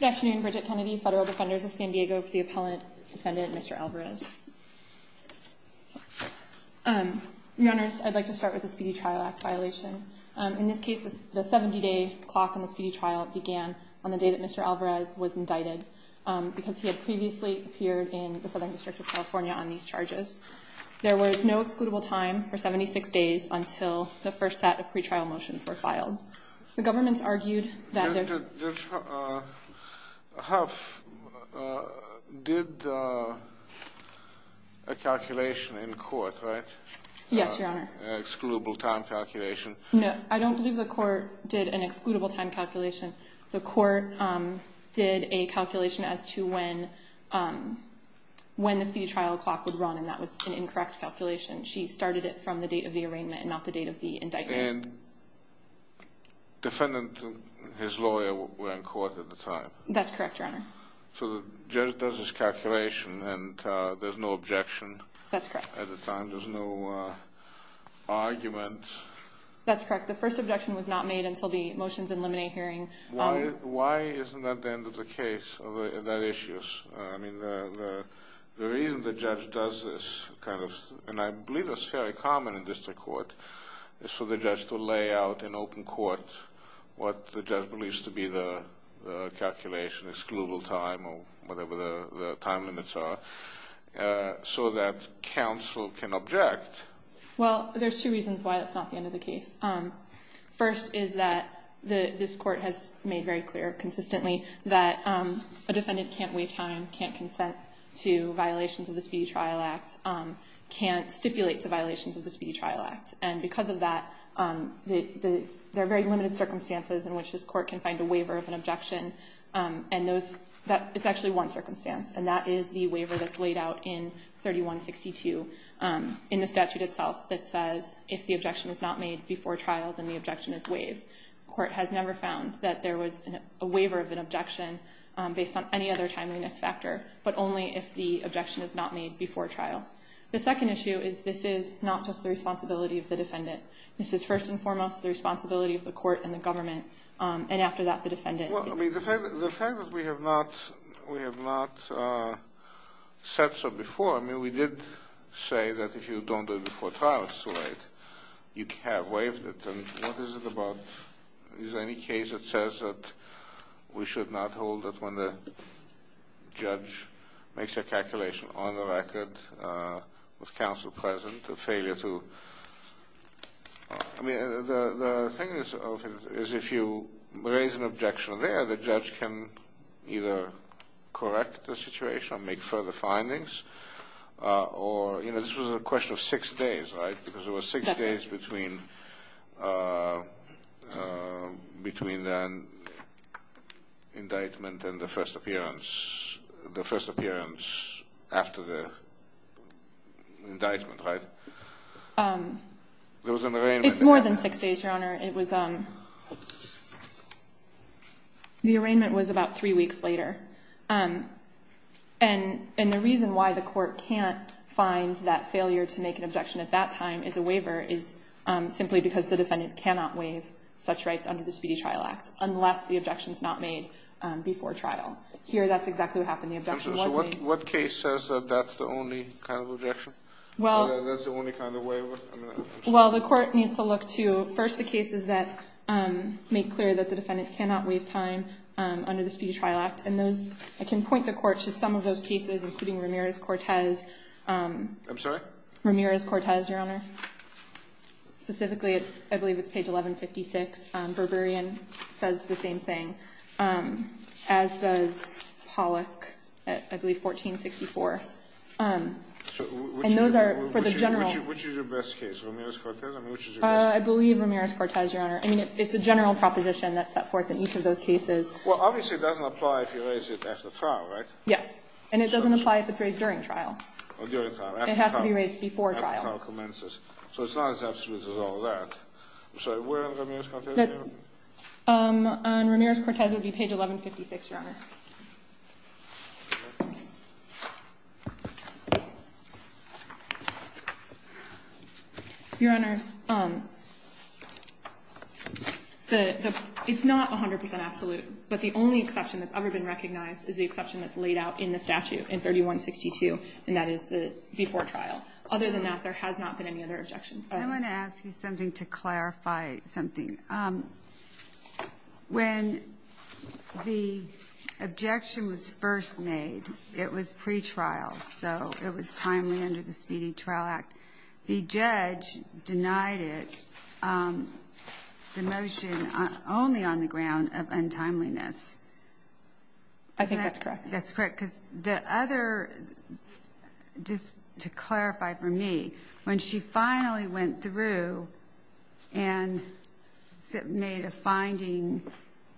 Good afternoon, Bridget Kennedy, Federal Defenders of San Diego, the appellant, defendant, Mr. Alvarez. Your Honors, I'd like to start with the Speedy Trial Act violation. In this case, the 70-day clock in the speedy trial began on the day that Mr. Alvarez was indicted because he had previously appeared in the Southern District of California on these charges. There was no excludable time for 76 days until the first set of pretrial motions were filed. The government's argued that there... Judge Huff did a calculation in court, right? Yes, Your Honor. An excludable time calculation. No, I don't believe the court did an excludable time calculation. The court did a calculation as to when the speedy trial clock would run, and that was an incorrect calculation. She started it from the date of the arraignment and not the date of the indictment. And the defendant and his lawyer were in court at the time. That's correct, Your Honor. So the judge does this calculation, and there's no objection at the time? That's correct. There's no argument? That's correct. The first objection was not made until the motions in limine hearing. Why isn't that the end of the case, of that issue? I mean, the reason the judge does this kind of, and I believe that's very common in district court, is for the judge to lay out in open court what the judge believes to be the calculation, excludable time or whatever the time limits are, so that counsel can object. Well, there's two reasons why that's not the end of the case. First is that this court has made very clear consistently that a defendant can't waive time, can't consent to violations of the Speedy Trial Act, can't stipulate to violations of the Speedy Trial Act. And because of that, there are very limited circumstances in which this court can find a waiver of an objection. And it's actually one circumstance, and that is the waiver that's laid out in 3162 in the statute itself that says if the objection is not made before trial, then the objection is waived. The court has never found that there was a waiver of an objection based on any other timeliness factor, but only if the objection is not made before trial. The second issue is this is not just the responsibility of the defendant. This is first and foremost the responsibility of the court and the government, and after that the defendant. Well, I mean, the fact that we have not said so before, I mean, we did say that if you don't do it before trial, it's too late. You have waived it, and what is it about? Is there any case that says that we should not hold it when the judge makes a calculation on the record with counsel present, a failure to? I mean, the thing is if you raise an objection there, the judge can either correct the situation or make further findings, or, you know, this was a question of six days, right? Because it was six days between the indictment and the first appearance, the first appearance after the indictment, right? There was an arraignment. It's more than six days, Your Honor. It was the arraignment was about three weeks later, and the reason why the court can't find that failure to make an objection at that time as a waiver is simply because the defendant cannot waive such rights under the Speedy Trial Act unless the objection is not made before trial. Here that's exactly what happened. The objection wasn't made. So what case says that that's the only kind of objection? That's the only kind of waiver? Well, the court needs to look to, first, the cases that make clear that the defendant cannot waive time under the Speedy Trial Act, and I can point the court to some of those cases, including Ramirez-Cortez. I'm sorry? Ramirez-Cortez, Your Honor. Specifically, I believe it's page 1156. Berberian says the same thing, as does Pollock at, I believe, 1464. And those are for the general. Which is your best case, Ramirez-Cortez? I mean, which is your best case? I believe Ramirez-Cortez, Your Honor. I mean, it's a general proposition that's set forth in each of those cases. Well, obviously it doesn't apply if you raise it after trial, right? Yes. And it doesn't apply if it's raised during trial. Or during trial. It has to be raised before trial. After trial commences. So it's not as absolute as all that. I'm sorry. On Ramirez-Cortez would be page 1156, Your Honor. Your Honor, it's not 100% absolute. But the only exception that's ever been recognized is the exception that's laid out in the statute in 3162. And that is before trial. Other than that, there has not been any other objection. I want to ask you something to clarify something. When the objection was first made, it was pretrial. So it was timely under the Speedy Trial Act. The judge denied it, the motion only on the ground of untimeliness. I think that's correct. That's correct. Because the other, just to clarify for me, when she finally went through and made a finding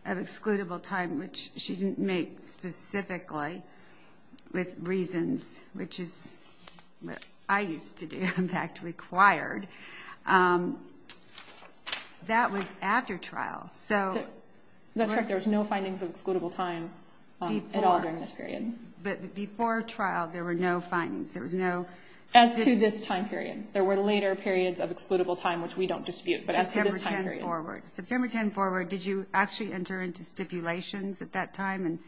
of excludable time, which she didn't make specifically with reasons, which is what I used to do, in fact, required, that was after trial. That's right. There was no findings of excludable time at all during this period. But before trial, there were no findings. As to this time period, there were later periods of excludable time, which we don't dispute. But as to this time period. September 10 forward. September 10 forward, did you actually enter into stipulations at that time and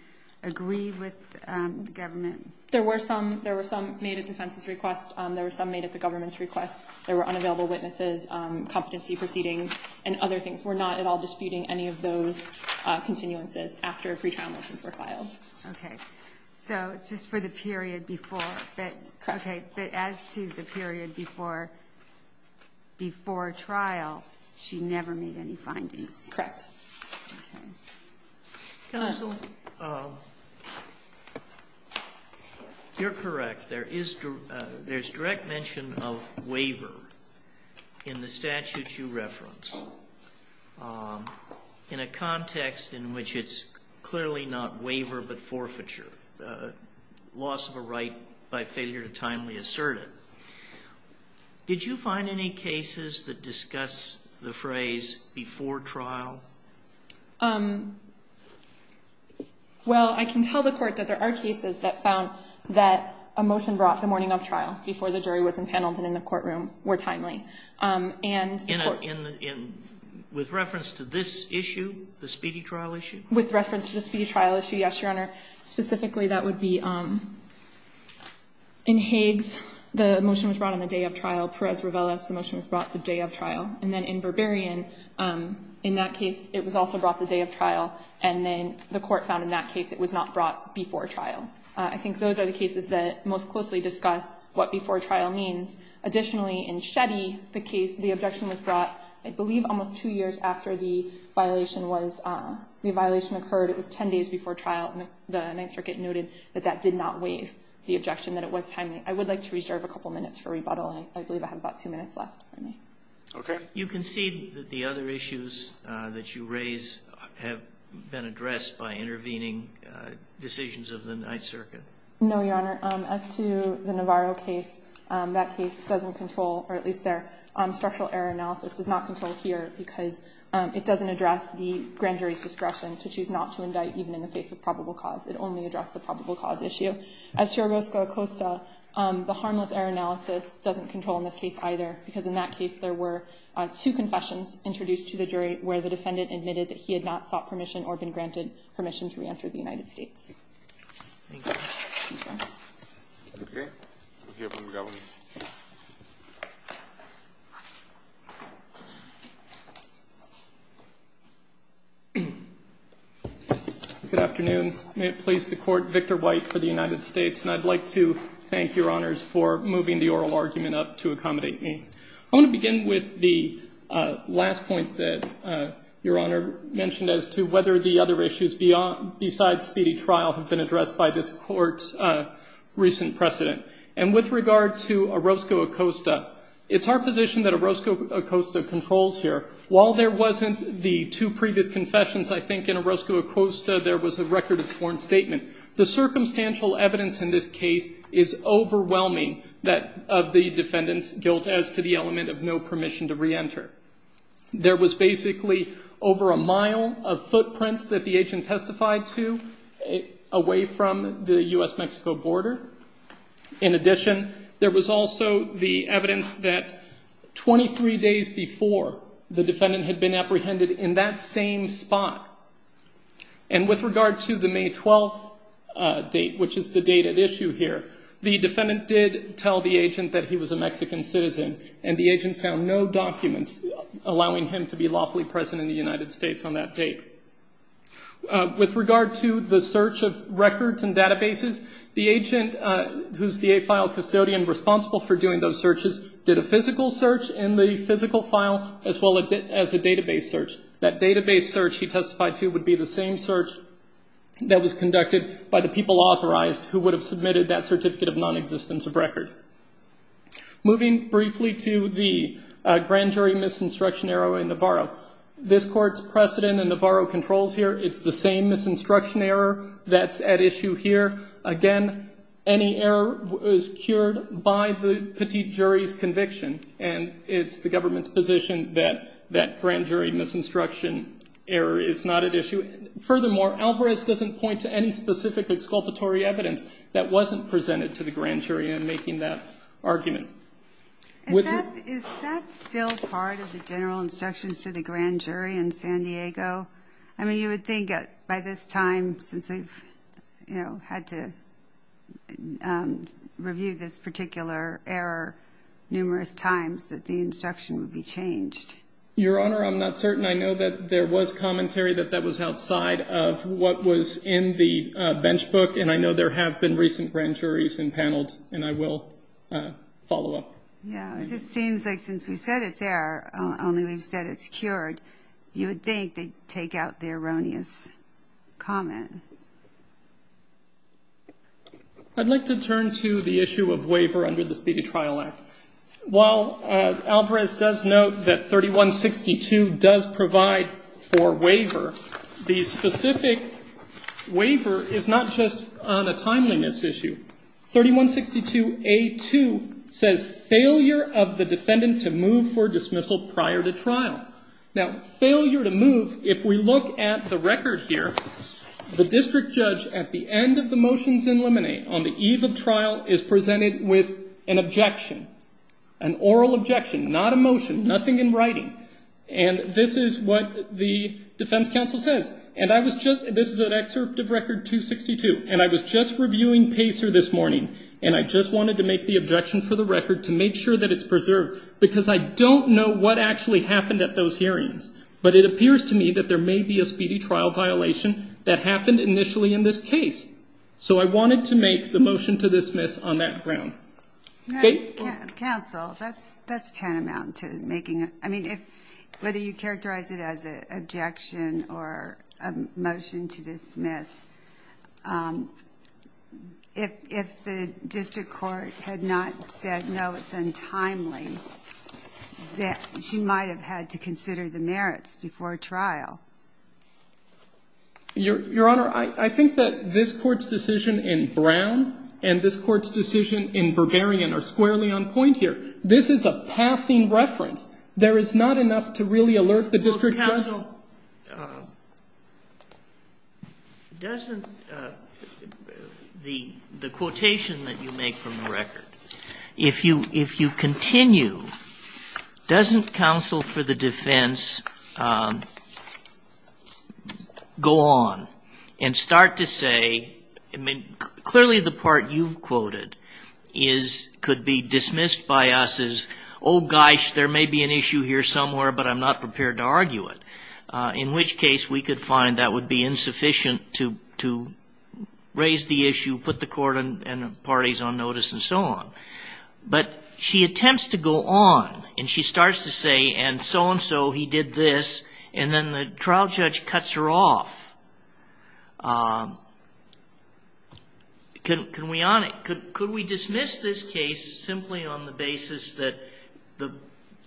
agree with the government? There were some made at defense's request. There were some made at the government's request. There were unavailable witnesses, competency proceedings, and other things. We're not at all disputing any of those continuances after pretrial motions were filed. Okay. So it's just for the period before. Correct. Okay. But as to the period before trial, she never made any findings. Correct. Okay. Counsel. You're correct. There's direct mention of waiver in the statute you reference in a context in which it's clearly not waiver but forfeiture, loss of a right by failure to timely assert it. Did you find any cases that discuss the phrase before trial? Well, I can tell the court that there are cases that found that a motion brought the morning of trial before the jury was impaneled and in the courtroom were timely. With reference to this issue, the speedy trial issue? With reference to the speedy trial issue, yes, Your Honor. Specifically, that would be in Hagues, the motion was brought on the day of trial. Perez-Rivelas, the motion was brought the day of trial. And then in Berberian, in that case, it was also brought the day of trial and then the court found in that case it was not brought before trial. I think those are the cases that most closely discuss what before trial means. Additionally, in Shetty, the objection was brought, I believe, almost two years after the violation occurred. It was 10 days before trial and the Ninth Circuit noted that that did not waive the objection, that it was timely. I would like to reserve a couple minutes for rebuttal. I believe I have about two minutes left, if I may. Okay. You concede that the other issues that you raise have been addressed by intervening decisions of the Ninth Circuit? No, Your Honor. As to the Navarro case, that case doesn't control, or at least their structural error analysis does not control here because it doesn't address the grand jury's discretion to choose not to indict even in the face of probable cause. It only addressed the probable cause issue. As to Orozco-Acosta, the harmless error analysis doesn't control in this case either because in that case there were two confessions introduced to the jury where the defendant admitted that he had not sought permission or been granted permission to reenter the United States. Thank you. Thank you. Okay. We'll hear from the government. Good afternoon. May it please the Court. Victor White for the United States, and I'd like to thank Your Honors for moving the oral argument up to accommodate me. I want to begin with the last point that Your Honor mentioned as to whether the other issues besides speedy trial have been addressed by this Court's recent precedent. And with regard to Orozco-Acosta, it's our position that Orozco-Acosta controls here. While there wasn't the two previous confessions, I think in Orozco-Acosta there was a record of sworn statement. The circumstantial evidence in this case is overwhelming that of the defendant's guilt as to the element of no permission to reenter. There was basically over a mile of footprints that the agent testified to away from the U.S.-Mexico border. In addition, there was also the evidence that 23 days before the defendant had been apprehended in that same spot. And with regard to the May 12th date, which is the date at issue here, the defendant did tell the agent that he was a Mexican citizen, and the agent found no documents allowing him to be lawfully present in the United States on that date. With regard to the search of records and databases, the agent, who's the AFILE custodian responsible for doing those searches, did a physical search in the physical file as well as a database search. That database search he testified to would be the same search that was conducted by the people authorized who would have submitted that certificate of nonexistence of record. Moving briefly to the grand jury misinstruction error in Navarro, this Court's precedent in Navarro controls here. It's the same misinstruction error that's at issue here. Again, any error is cured by the petite jury's conviction, and it's the government's position that that grand jury misinstruction error is not at issue. Furthermore, Alvarez doesn't point to any specific exculpatory evidence that wasn't presented to the grand jury in making that argument. Is that still part of the general instructions to the grand jury in San Diego? I mean, you would think by this time, since we've, you know, had to review this particular error numerous times, that the instruction would be changed. Your Honor, I'm not certain. I know that there was commentary that that was outside of what was in the bench book, and I know there have been recent grand juries and panels, and I will follow up. Yeah, it just seems like since we've said it's there, only we've said it's cured, you would think they'd take out the erroneous comment. I'd like to turn to the issue of waiver under the Speedy Trial Act. While Alvarez does note that 3162 does provide for waiver, the specific waiver is not just on a timeliness issue. 3162A2 says failure of the defendant to move for dismissal prior to trial. Now, failure to move, if we look at the record here, the district judge at the end of the motions in limine on the eve of trial is presented with an objection, an oral objection, not a motion, nothing in writing. And this is what the defense counsel says. And I was just, this is an excerpt of Record 262, and I was just reviewing Pacer this morning, and I just wanted to make the objection for the record to make sure that it's But it appears to me that there may be a speedy trial violation that happened initially in this case. So I wanted to make the motion to dismiss on that ground. Counsel, that's tantamount to making, I mean, whether you characterize it as an objection or a motion to dismiss, if the district court had not said, no, it's untimely, that she might have had to consider the merits before trial. Your Honor, I think that this Court's decision in Brown and this Court's decision in Berberian are squarely on point here. This is a passing reference. There is not enough to really alert the district judge. Well, counsel, doesn't the quotation that you make from the record, if you continue doesn't counsel for the defense go on and start to say, I mean, clearly the part you've quoted could be dismissed by us as, oh, gosh, there may be an issue here somewhere, but I'm not prepared to argue it, in which case we could find that would be insufficient to raise the issue, put the Court and the parties on notice and so on. But she attempts to go on, and she starts to say, and so-and-so, he did this, and then the trial judge cuts her off. Could we dismiss this case simply on the basis that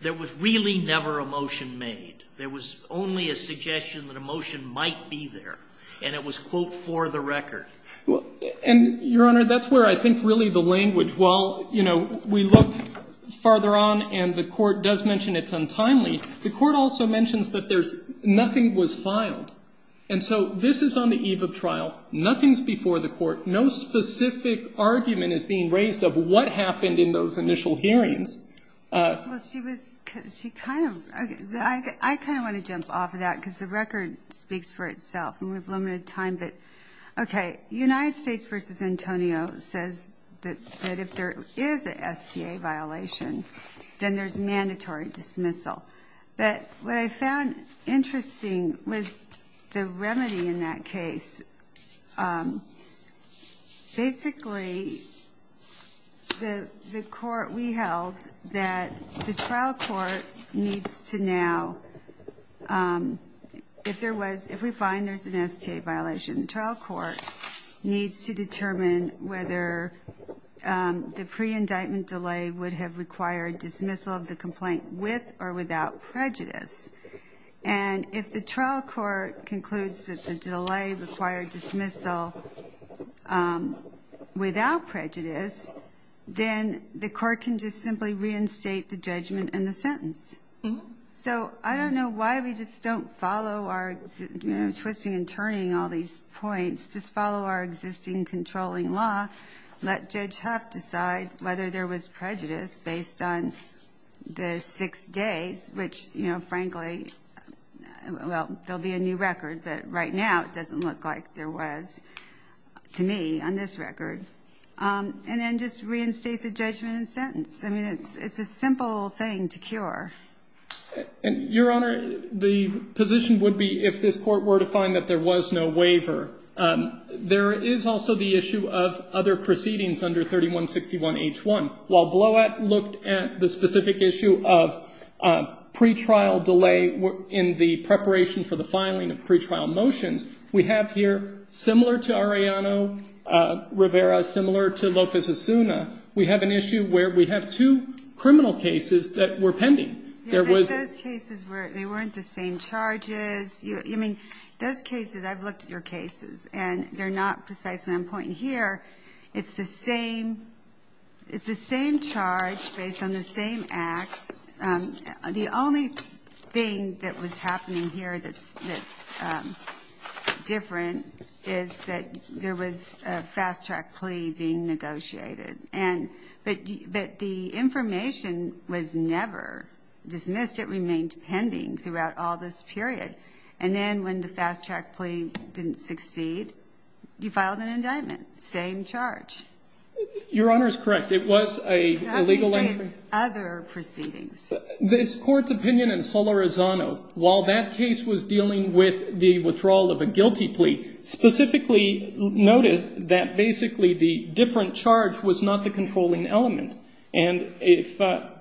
there was really never a motion made? There was only a suggestion that a motion might be there, and it was, quote, for the record. And, Your Honor, that's where I think really the language, well, you know, we look farther on, and the Court does mention it's untimely. The Court also mentions that there's nothing was filed, and so this is on the eve of trial. Nothing's before the Court. No specific argument is being raised of what happened in those initial hearings. Well, she was, she kind of, I kind of want to jump off of that because the record speaks for itself, and we have limited time, but, okay, United States v. Antonio says that if there is a STA violation, then there's mandatory dismissal. But what I found interesting was the remedy in that case. Basically, the Court, we held that the trial court needs to now, if there was, if we find there's an STA violation, the trial court needs to determine whether the pre-indictment delay would have required dismissal of the complaint with or without prejudice. And if the trial court concludes that the delay required dismissal without prejudice, then the Court can just simply reinstate the judgment and the sentence. So I don't know why we just don't follow our, you know, twisting and turning all these points, just follow our existing controlling law, let Judge Huff decide whether there was prejudice based on the six days, which, you know, frankly, well, there'll be a new record, but right now it doesn't look like there was to me on this record, and then just reinstate the judgment and sentence. I mean, it's a simple thing to cure. Your Honor, the position would be if this Court were to find that there was no waiver, there is also the issue of other proceedings under 3161H1. While Bloat looked at the specific issue of pre-trial delay in the preparation for the filing of pre-trial motions, we have here, similar to Arellano Rivera, similar to Lopez-Asuna, we have an issue where we have two criminal cases that were pending. There was the same charges. I mean, those cases, I've looked at your cases, and they're not precisely on point here. It's the same charge based on the same acts. The only thing that was happening here that's different is that there was a fast-track plea being negotiated, but the information was never dismissed. It remained pending throughout all this period. And then when the fast-track plea didn't succeed, you filed an indictment, same charge. Your Honor is correct. It was an illegal entry. Other proceedings. This Court's opinion in Solorzano, while that case was dealing with the withdrawal of a guilty plea, specifically noted that basically the different charge was not the controlling element. And if at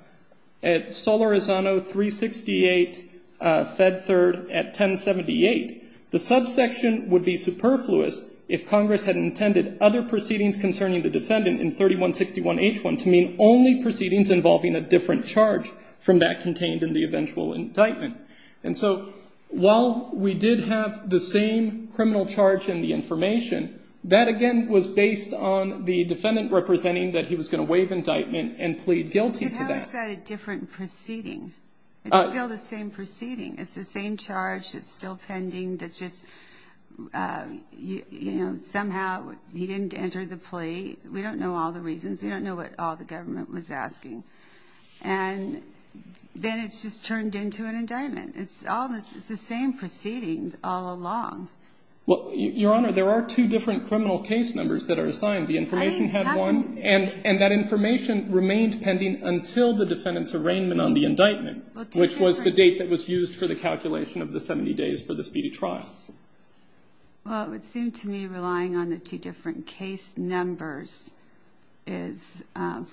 Solorzano 368 Fed Third at 1078, the subsection would be superfluous if Congress had intended other proceedings concerning the defendant in 3161H1 to mean only proceedings involving a different charge from that contained in the eventual indictment. And so while we did have the same criminal charge in the information, that again was based on the defendant representing that he was going to waive indictment and plead guilty to that. But how is that a different proceeding? It's still the same proceeding. It's the same charge. It's still pending. That's just, you know, somehow he didn't enter the plea. We don't know all the reasons. We don't know what all the government was asking. And then it's just turned into an indictment. It's the same proceeding all along. Well, Your Honor, there are two different criminal case numbers that are assigned. The information had one. And that information remained pending until the defendant's arraignment on the indictment, which was the date that was used for the calculation of the 70 days for the speedy trial. Well, it would seem to me relying on the two different case numbers is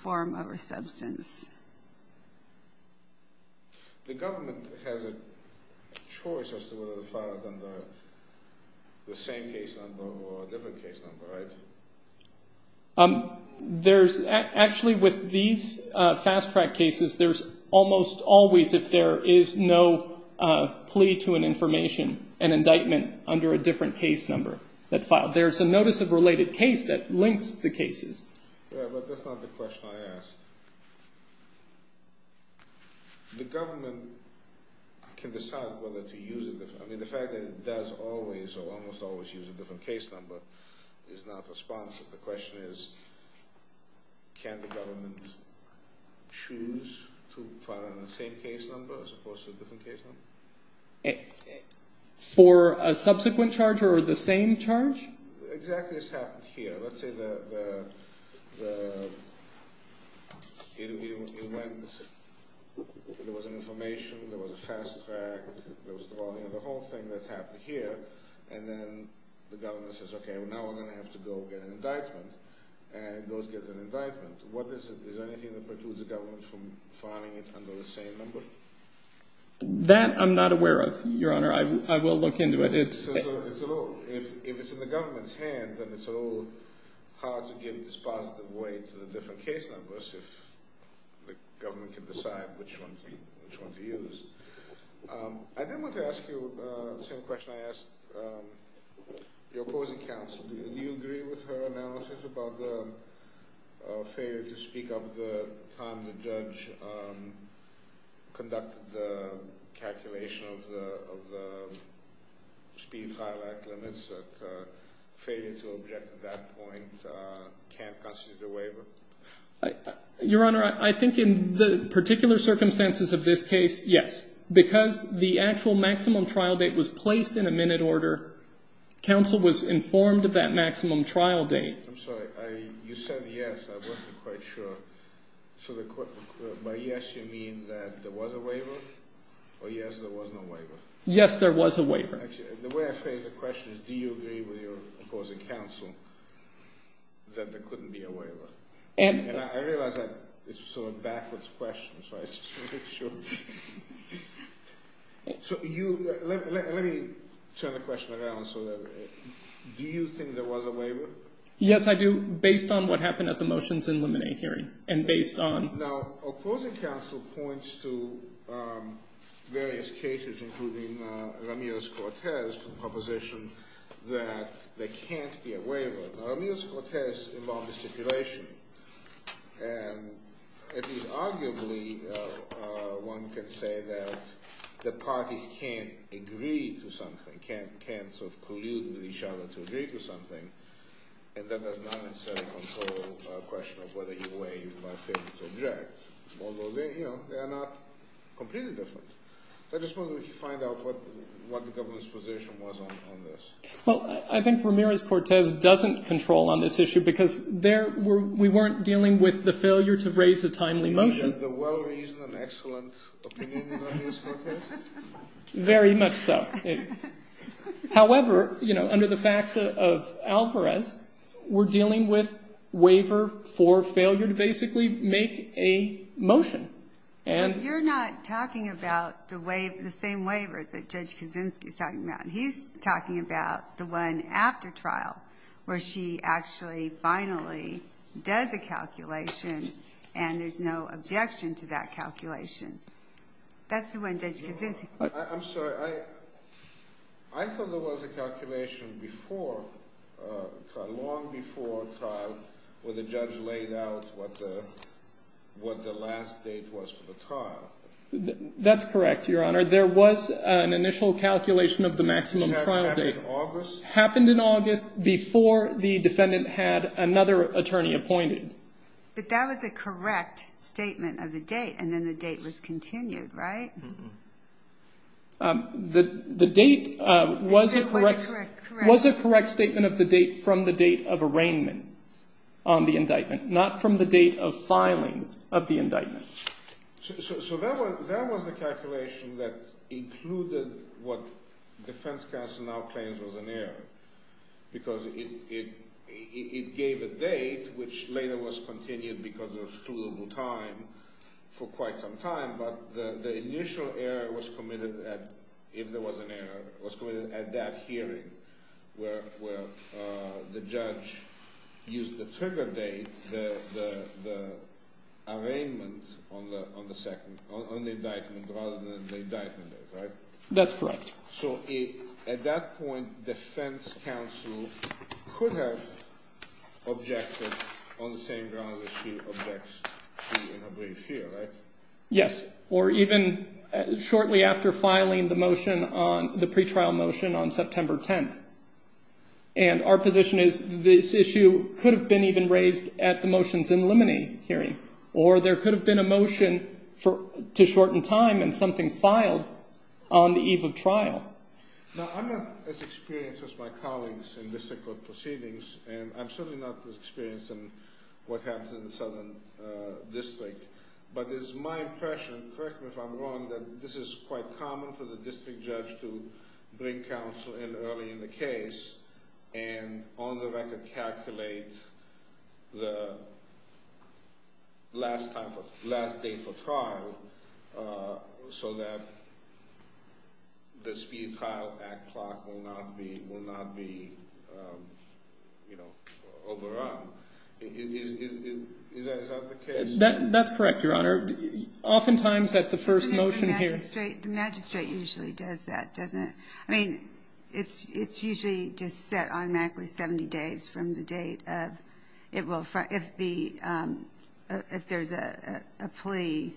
form over substance. The government has a choice as to whether to file it under the same case number or a different case number, right? Actually, with these fast-track cases, there's almost always, if there is no plea to an information, an indictment under a different case number that's filed. There's a notice of related case that links the cases. Yeah, but that's not the question I asked. The government can decide whether to use it. I mean, the fact that it does always or almost always use a different case number is not responsive. The question is can the government choose to file it under the same case number as opposed to a different case number? For a subsequent charge or the same charge? Exactly this happened here. Let's say the interview went, there was an information, there was a fast-track, there was the volume. The whole thing that happened here and then the government says, okay, now I'm going to have to go get an indictment and goes and gets an indictment. What is it? Is there anything that precludes the government from filing it under the same number? That I'm not aware of, Your Honor. I will look into it. If it's in the government's hands, then it's a little hard to give this positive weight to the different case numbers if the government can decide which one to use. I then want to ask you the same question I asked your opposing counsel. Do you agree with her analysis about the failure to speak up at the time the judge conducted the calculation of the speed trial act limits, that failure to object at that point can't constitute a waiver? Your Honor, I think in the particular circumstances of this case, yes. Because the actual maximum trial date was placed in a minute order, counsel was informed of that maximum trial date. I'm sorry. You said yes. I wasn't quite sure. By yes, you mean that there was a waiver or yes, there was no waiver? Yes, there was a waiver. The way I phrase the question is do you agree with your opposing counsel that there couldn't be a waiver? I realize that is sort of a backwards question, so I just want to make sure. Let me turn the question around. Do you think there was a waiver? Yes, I do. Based on what happened at the motions and limine hearing and based on. Now, opposing counsel points to various cases, including Ramirez-Cortez proposition that there can't be a waiver. Ramirez-Cortez involved a stipulation, and arguably one could say that the parties can't agree to something, although they are not completely different. I just wanted to find out what the government's position was on this. Well, I think Ramirez-Cortez doesn't control on this issue because we weren't dealing with the failure to raise a timely motion. You had the well-reasoned and excellent opinion of Ramirez-Cortez? Very much so. However, under the facts of Alvarez, we're dealing with waiver for failure to basically make a motion. You're not talking about the same waiver that Judge Kaczynski is talking about. He's talking about the one after trial where she actually finally does a calculation and there's no objection to that calculation. That's the one Judge Kaczynski. I'm sorry. I thought there was a calculation long before trial where the judge laid out what the last date was for the trial. That's correct, Your Honor. There was an initial calculation of the maximum trial date. Did this happen in August? Happened in August before the defendant had another attorney appointed. But that was a correct statement of the date, and then the date was continued, right? The date was a correct statement of the date from the date of arraignment on the indictment, not from the date of filing of the indictment. So that was the calculation that included what defense counsel now claims was an error because it gave a date, which later was continued because of scrutinable time for quite some time. But the initial error was committed if there was an error. It was committed at that hearing where the judge used the trigger date, the arraignment on the indictment rather than the indictment date, right? That's correct. So at that point, defense counsel could have objected on the same grounds as she objects to in her brief here, right? Yes, or even shortly after filing the motion on the pretrial motion on September 10th. And our position is this issue could have been even raised at the motions in limine hearing, or there could have been a motion to shorten time and something filed on the eve of trial. Now, I'm not as experienced as my colleagues in district court proceedings, and I'm certainly not as experienced in what happens in the southern district. But it's my impression, correct me if I'm wrong, that this is quite common for the district judge to bring counsel in early in the case, and on the record calculate the last date for trial so that the speed trial at clock will not be overrun. Is that the case? That's correct, Your Honor. Oftentimes, at the first motion here. The magistrate usually does that, doesn't it? I mean, it's usually just set automatically 70 days from the date of if there's a plea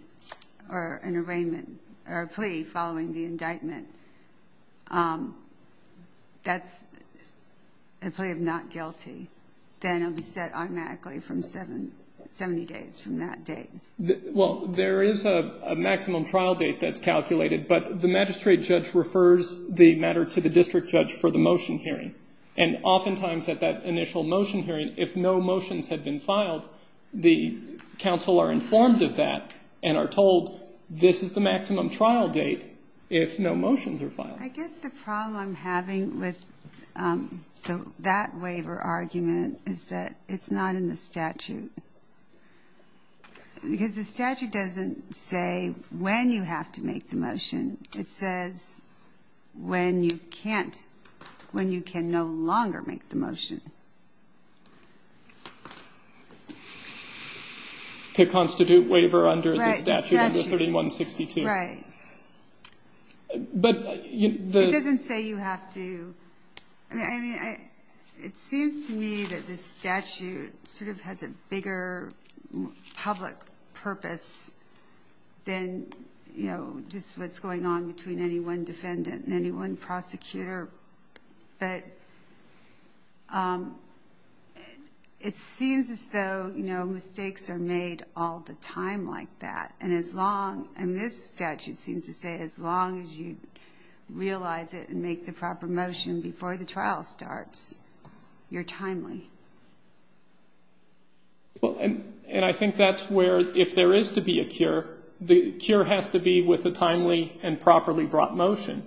or an arraignment or a plea following the indictment. That's a plea of not guilty. Then it'll be set automatically from 70 days from that date. Well, there is a maximum trial date that's calculated, but the magistrate judge refers the matter to the district judge for the motion hearing. And oftentimes at that initial motion hearing, if no motions have been filed, the counsel are informed of that and are told this is the maximum trial date if no motions are filed. I guess the problem I'm having with that waiver argument is that it's not in the statute. Because the statute doesn't say when you have to make the motion. It says when you can't, when you can no longer make the motion. To constitute waiver under the statute under 3162. Right. It doesn't say you have to. I mean, it seems to me that this statute sort of has a bigger public purpose than, you know, just what's going on between any one defendant and any one prosecutor. But it seems as though, you know, mistakes are made all the time like that. And as long, and this statute seems to say as long as you realize it and make the proper motion before the trial starts, you're timely. Well, and I think that's where if there is to be a cure, the cure has to be with a timely and properly brought motion.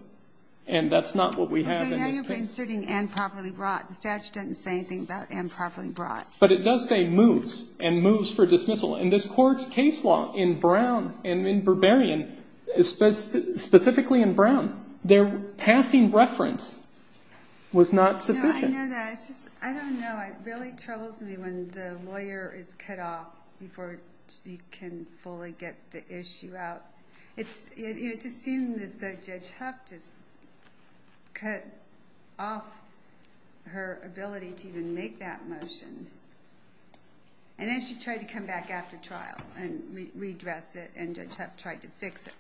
And that's not what we have in this case. Okay, now you're inserting and properly brought. The statute doesn't say anything about and properly brought. But it does say moves and moves for dismissal. In this court's case law in Brown and in Berberian, specifically in Brown, their passing reference was not sufficient. No, I know that. It's just, I don't know. It really troubles me when the lawyer is cut off before she can fully get the issue out. It just seems as though Judge Huff just cut off her ability to even make that motion. And then she tried to come back after trial and redress it. And Judge Huff tried to fix it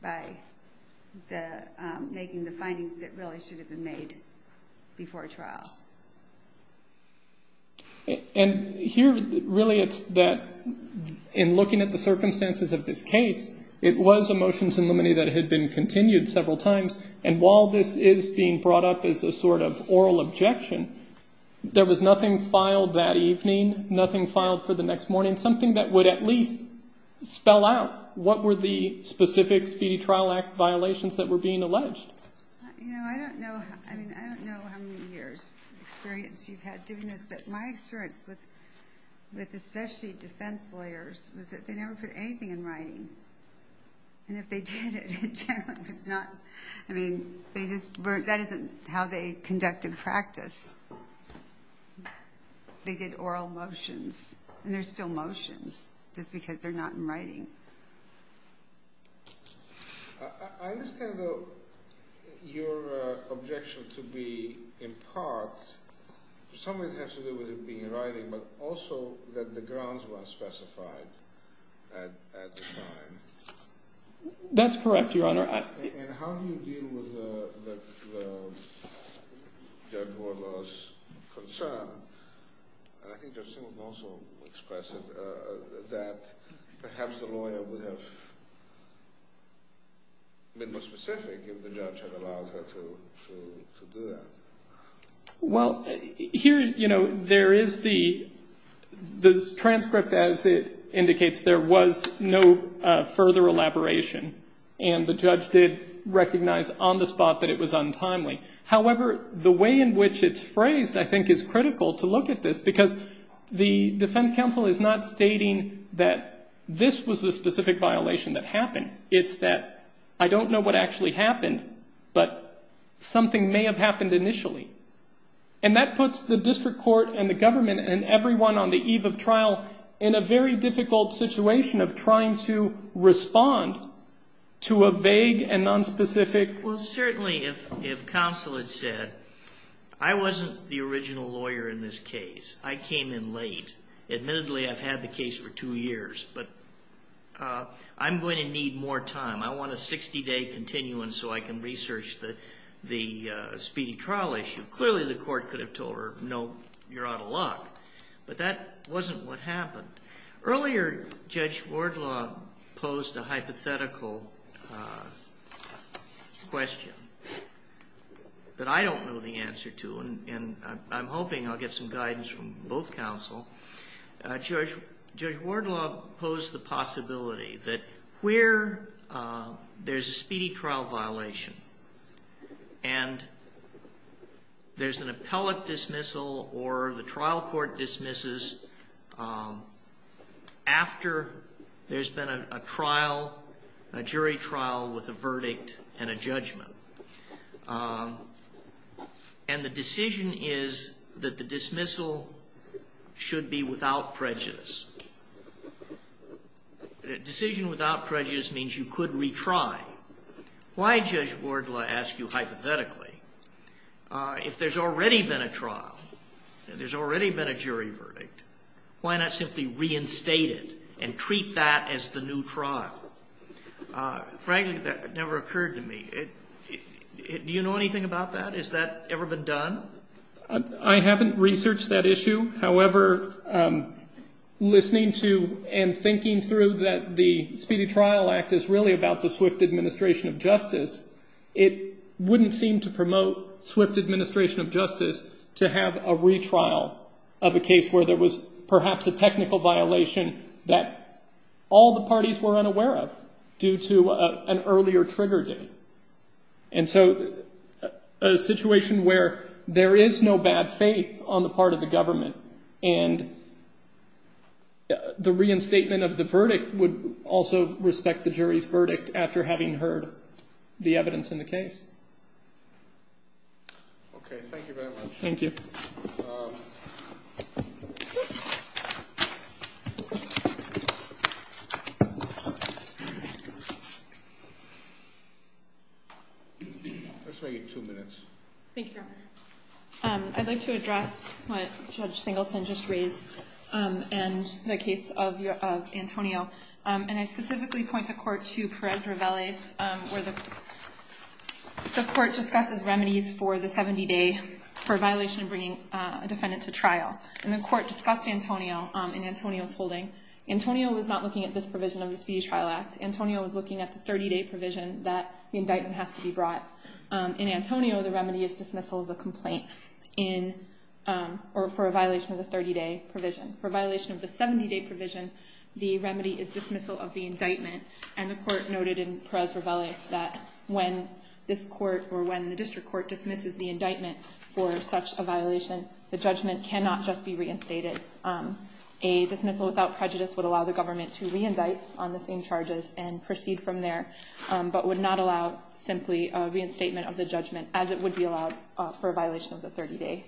by making the findings that really should have been made before trial. And here, really, it's that in looking at the circumstances of this case, it was a motions in limine that had been continued several times. And while this is being brought up as a sort of oral objection, there was nothing filed that evening, nothing filed for the next morning, something that would at least spell out what were the specific Speedy Trial Act violations that were being alleged. You know, I don't know how many years' experience you've had doing this, but my experience with especially defense lawyers was that they never put anything in writing. And if they did, it generally was not, I mean, they just weren't, that isn't how they conducted practice. They did oral motions, and they're still motions just because they're not in writing. I understand your objection to be, in part, some of it has to do with it being in writing, but also that the grounds weren't specified at the time. That's correct, Your Honor. And how do you deal with Judge Wardlaw's concern, and I think Judge Singleton also expressed it, that perhaps the lawyer would have been more specific if the judge had allowed her to do that? Well, here, you know, there is the transcript, as it indicates, there was no further elaboration. And the judge did recognize on the spot that it was untimely. However, the way in which it's phrased, I think, is critical to look at this, because the defense counsel is not stating that this was the specific violation that happened. It's that I don't know what actually happened, but something may have happened initially. And that puts the district court and the government and everyone on the eve of trial in a very difficult situation of trying to respond to a vague and nonspecific... Well, certainly, if counsel had said, I wasn't the original lawyer in this case. I came in late. Admittedly, I've had the case for two years, but I'm going to need more time. I want a 60-day continuance so I can research the speedy trial issue. Clearly, the court could have told her, no, you're out of luck. But that wasn't what happened. Earlier, Judge Wardlaw posed a hypothetical question that I don't know the answer to, and I'm hoping I'll get some guidance from both counsel. Judge Wardlaw posed the possibility that where there's a speedy trial violation and there's an appellate dismissal or the trial court dismisses after there's been a trial, a jury trial with a verdict and a judgment, and the decision is that the dismissal should be without prejudice. A decision without prejudice means you could retry. Why, Judge Wardlaw, ask you hypothetically, if there's already been a trial and there's already been a jury verdict, why not simply reinstate it and treat that as the new trial? Frankly, that never occurred to me. Do you know anything about that? Has that ever been done? I haven't researched that issue. However, listening to and thinking through that the Speedy Trial Act is really about the swift administration of justice, it wouldn't seem to promote swift administration of justice to have a retrial of a case where there was perhaps a technical violation that all the parties were unaware of due to an earlier trigger date. And so a situation where there is no bad faith on the part of the government and the reinstatement of the verdict would also respect the jury's verdict after having heard the evidence in the case. Okay, thank you very much. Thank you. Thank you. Let's make it two minutes. Thank you, Your Honor. I'd like to address what Judge Singleton just raised and the case of Antonio. And I specifically point the court to Perez-Reveles, where the court discusses remedies for the 70-day for violation of bringing a defendant to trial. And the court discussed Antonio in Antonio's holding. Antonio was not looking at this provision of the Speedy Trial Act. Antonio was looking at the 30-day provision that the indictment has to be brought. In Antonio, the remedy is dismissal of the complaint for a violation of the 30-day provision. For a violation of the 70-day provision, the remedy is dismissal of the indictment. And the court noted in Perez-Reveles that when this court or when the district court dismisses the indictment for such a violation, the judgment cannot just be reinstated. A dismissal without prejudice would allow the government to reindict on the same charges and proceed from there, but would not allow simply a reinstatement of the judgment as it would be allowed for a violation of the 30-day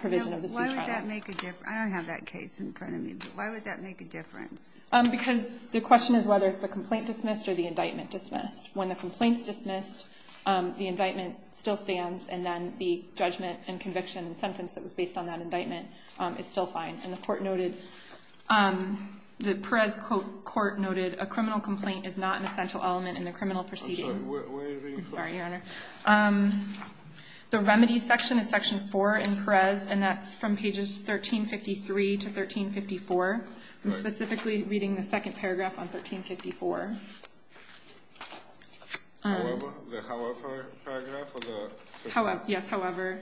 provision of the Speedy Trial Act. Why would that make a difference? I don't have that case in front of me, but why would that make a difference? Because the question is whether it's the complaint dismissed or the indictment dismissed. When the complaint is dismissed, the indictment still stands, and then the judgment and conviction and sentence that was based on that indictment is still fine. And the court noted, the Perez court noted, a criminal complaint is not an essential element in a criminal proceeding. I'm sorry, where are you reading from? I'm sorry, Your Honor. The remedy section is section 4 in Perez, and that's from pages 1353 to 1354. I'm specifically reading the second paragraph on 1354. The however paragraph? Yes, however.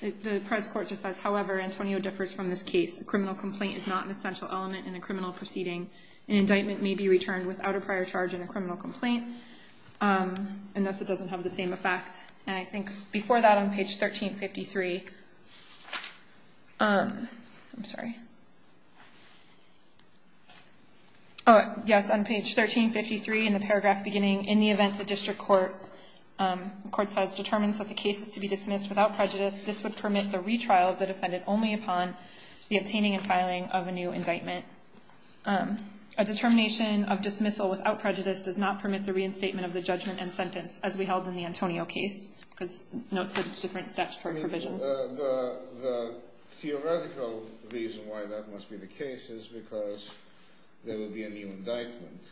The Perez court just says, however, Antonio differs from this case. A criminal complaint is not an essential element in a criminal proceeding. An indictment may be returned without a prior charge in a criminal complaint, unless it doesn't have the same effect. And I think before that, on page 1353, I'm sorry. Yes, on page 1353, in the paragraph beginning, in the event the district court says determines that the case is to be dismissed without prejudice, this would permit the retrial of the defendant only upon the obtaining and filing of a new indictment. A determination of dismissal without prejudice does not permit the reinstatement of the judgment and sentence, as we held in the Antonio case, because notes said it's different statutory provisions. The theoretical reason why that must be the case is because there would be a new indictment,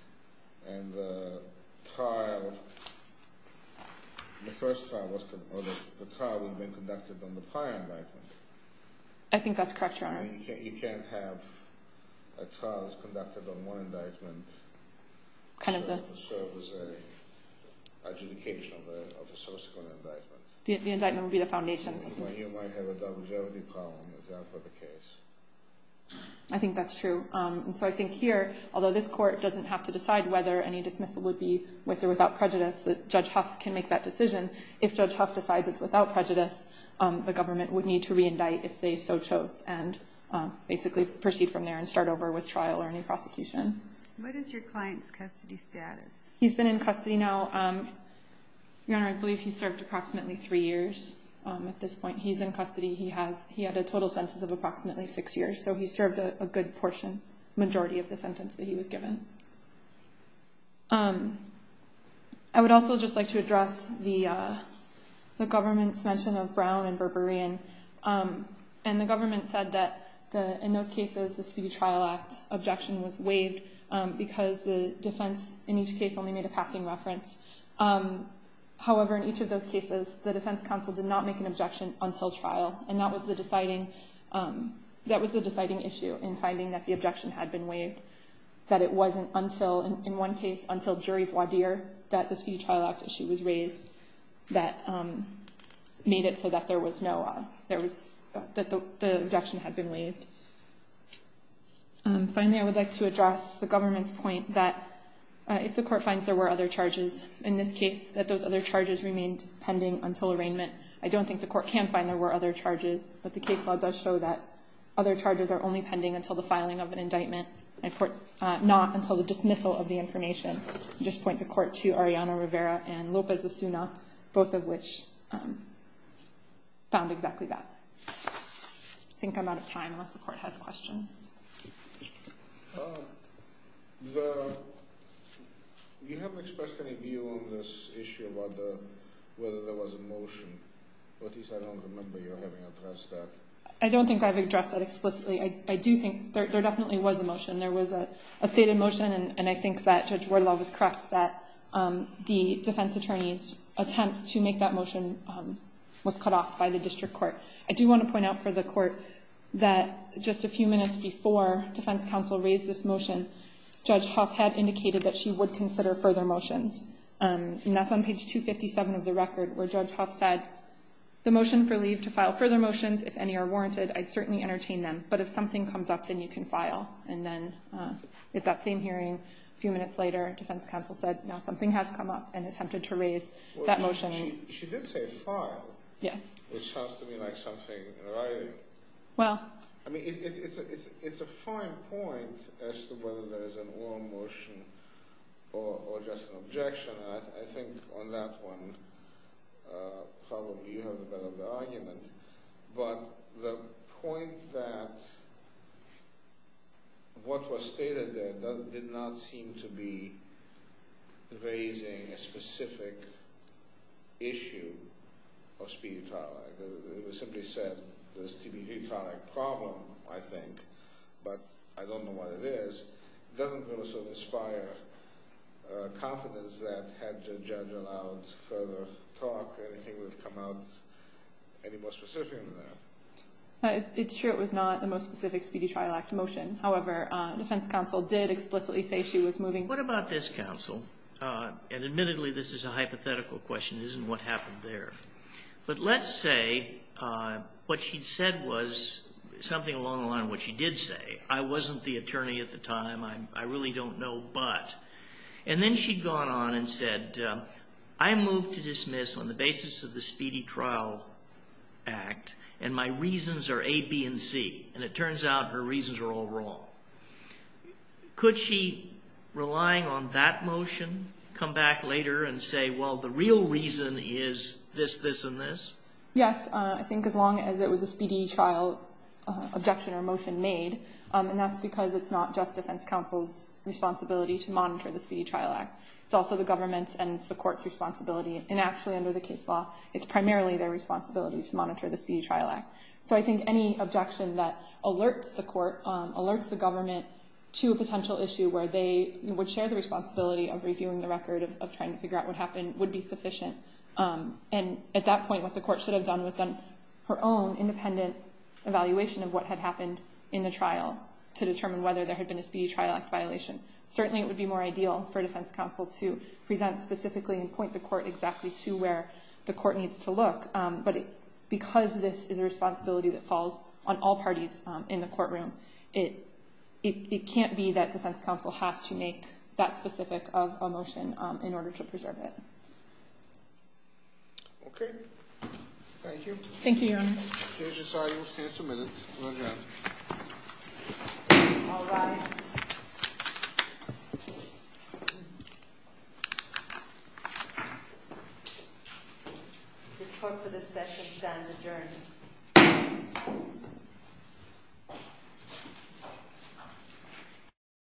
and the trial, the first trial, or the trial would have been conducted on the prior indictment. I think that's correct, Your Honor. You can't have a trial that's conducted on one indictment and serve as an adjudication of a subsequent indictment. The indictment would be the foundation. You might have a double jeopardy problem if that were the case. I think that's true. And so I think here, although this court doesn't have to decide whether any dismissal would be with or without prejudice, Judge Huff can make that decision. If Judge Huff decides it's without prejudice, the government would need to reindict if they so chose. And basically proceed from there and start over with trial or new prosecution. What is your client's custody status? He's been in custody now, Your Honor. I believe he served approximately three years at this point. He's in custody. He had a total sentence of approximately six years, so he served a good portion, majority of the sentence that he was given. I would also just like to address the government's mention of Brown and Berberian. And the government said that in those cases, the Speedy Trial Act objection was waived because the defense in each case only made a passing reference. However, in each of those cases, the defense counsel did not make an objection until trial, and that was the deciding issue in finding that the objection had been waived, that it wasn't until, in one case, until jury voir dire that the Speedy Trial Act issue was raised that made it so that the objection had been waived. Finally, I would like to address the government's point that if the court finds there were other charges in this case, that those other charges remained pending until arraignment. I don't think the court can find there were other charges, but the case law does show that other charges are only pending until the filing of an indictment, not until the dismissal of the information. I would just point the court to Ariana Rivera and Lopez Asuna, both of which found exactly that. I think I'm out of time unless the court has questions. You haven't expressed any view on this issue about whether there was a motion, but at least I don't remember you having addressed that. I don't think I've addressed that explicitly. I do think there definitely was a motion. And I think that Judge Wardlaw was correct that the defense attorney's attempt to make that motion was cut off by the district court. I do want to point out for the court that just a few minutes before defense counsel raised this motion, Judge Huff had indicated that she would consider further motions. And that's on page 257 of the record, where Judge Huff said, the motion for leave to file further motions, if any, are warranted. I'd certainly entertain them. But if something comes up, then you can file. And then at that same hearing, a few minutes later, defense counsel said, now something has come up and attempted to raise that motion. She did say file. Yes. Which sounds to me like something in writing. Well. I mean, it's a fine point as to whether there's an oral motion or just an objection. I think on that one, probably you have a better argument. But the point that what was stated there did not seem to be raising a specific issue of speedy trial. It was simply said there's a speedy trial problem, I think, but I don't know what it is. It doesn't really sort of inspire confidence that had the judge allowed further talk, or anything would have come out any more specific than that. It's true it was not the most specific Speedy Trial Act motion. However, defense counsel did explicitly say she was moving. What about this counsel? And admittedly, this is a hypothetical question. It isn't what happened there. But let's say what she said was something along the line of what she did say. I wasn't the attorney at the time. I really don't know but. And then she'd gone on and said, I move to dismiss on the basis of the Speedy Trial Act, and my reasons are A, B, and C. And it turns out her reasons are all wrong. Could she, relying on that motion, come back later and say, well, the real reason is this, this, and this? Yes. I think as long as it was a speedy trial objection or motion made, and that's because it's not just defense counsel's responsibility to monitor the Speedy Trial Act. It's also the government's and the court's responsibility. And actually, under the case law, it's primarily their responsibility to monitor the Speedy Trial Act. So I think any objection that alerts the court, alerts the government to a potential issue where they would share the responsibility of reviewing the record, of trying to figure out what happened, would be sufficient. And at that point, what the court should have done was done her own independent evaluation of what had happened in the trial to determine whether there had been a Speedy Trial Act violation. Certainly, it would be more ideal for defense counsel to present specifically and point the court exactly to where the court needs to look. But because this is a responsibility that falls on all parties in the courtroom, it can't be that defense counsel has to make that specific motion in order to preserve it. Okay. Thank you. Thank you, Your Honor. Judges, I will stand for a minute. All rise. This court for this session stands adjourned. Thank you.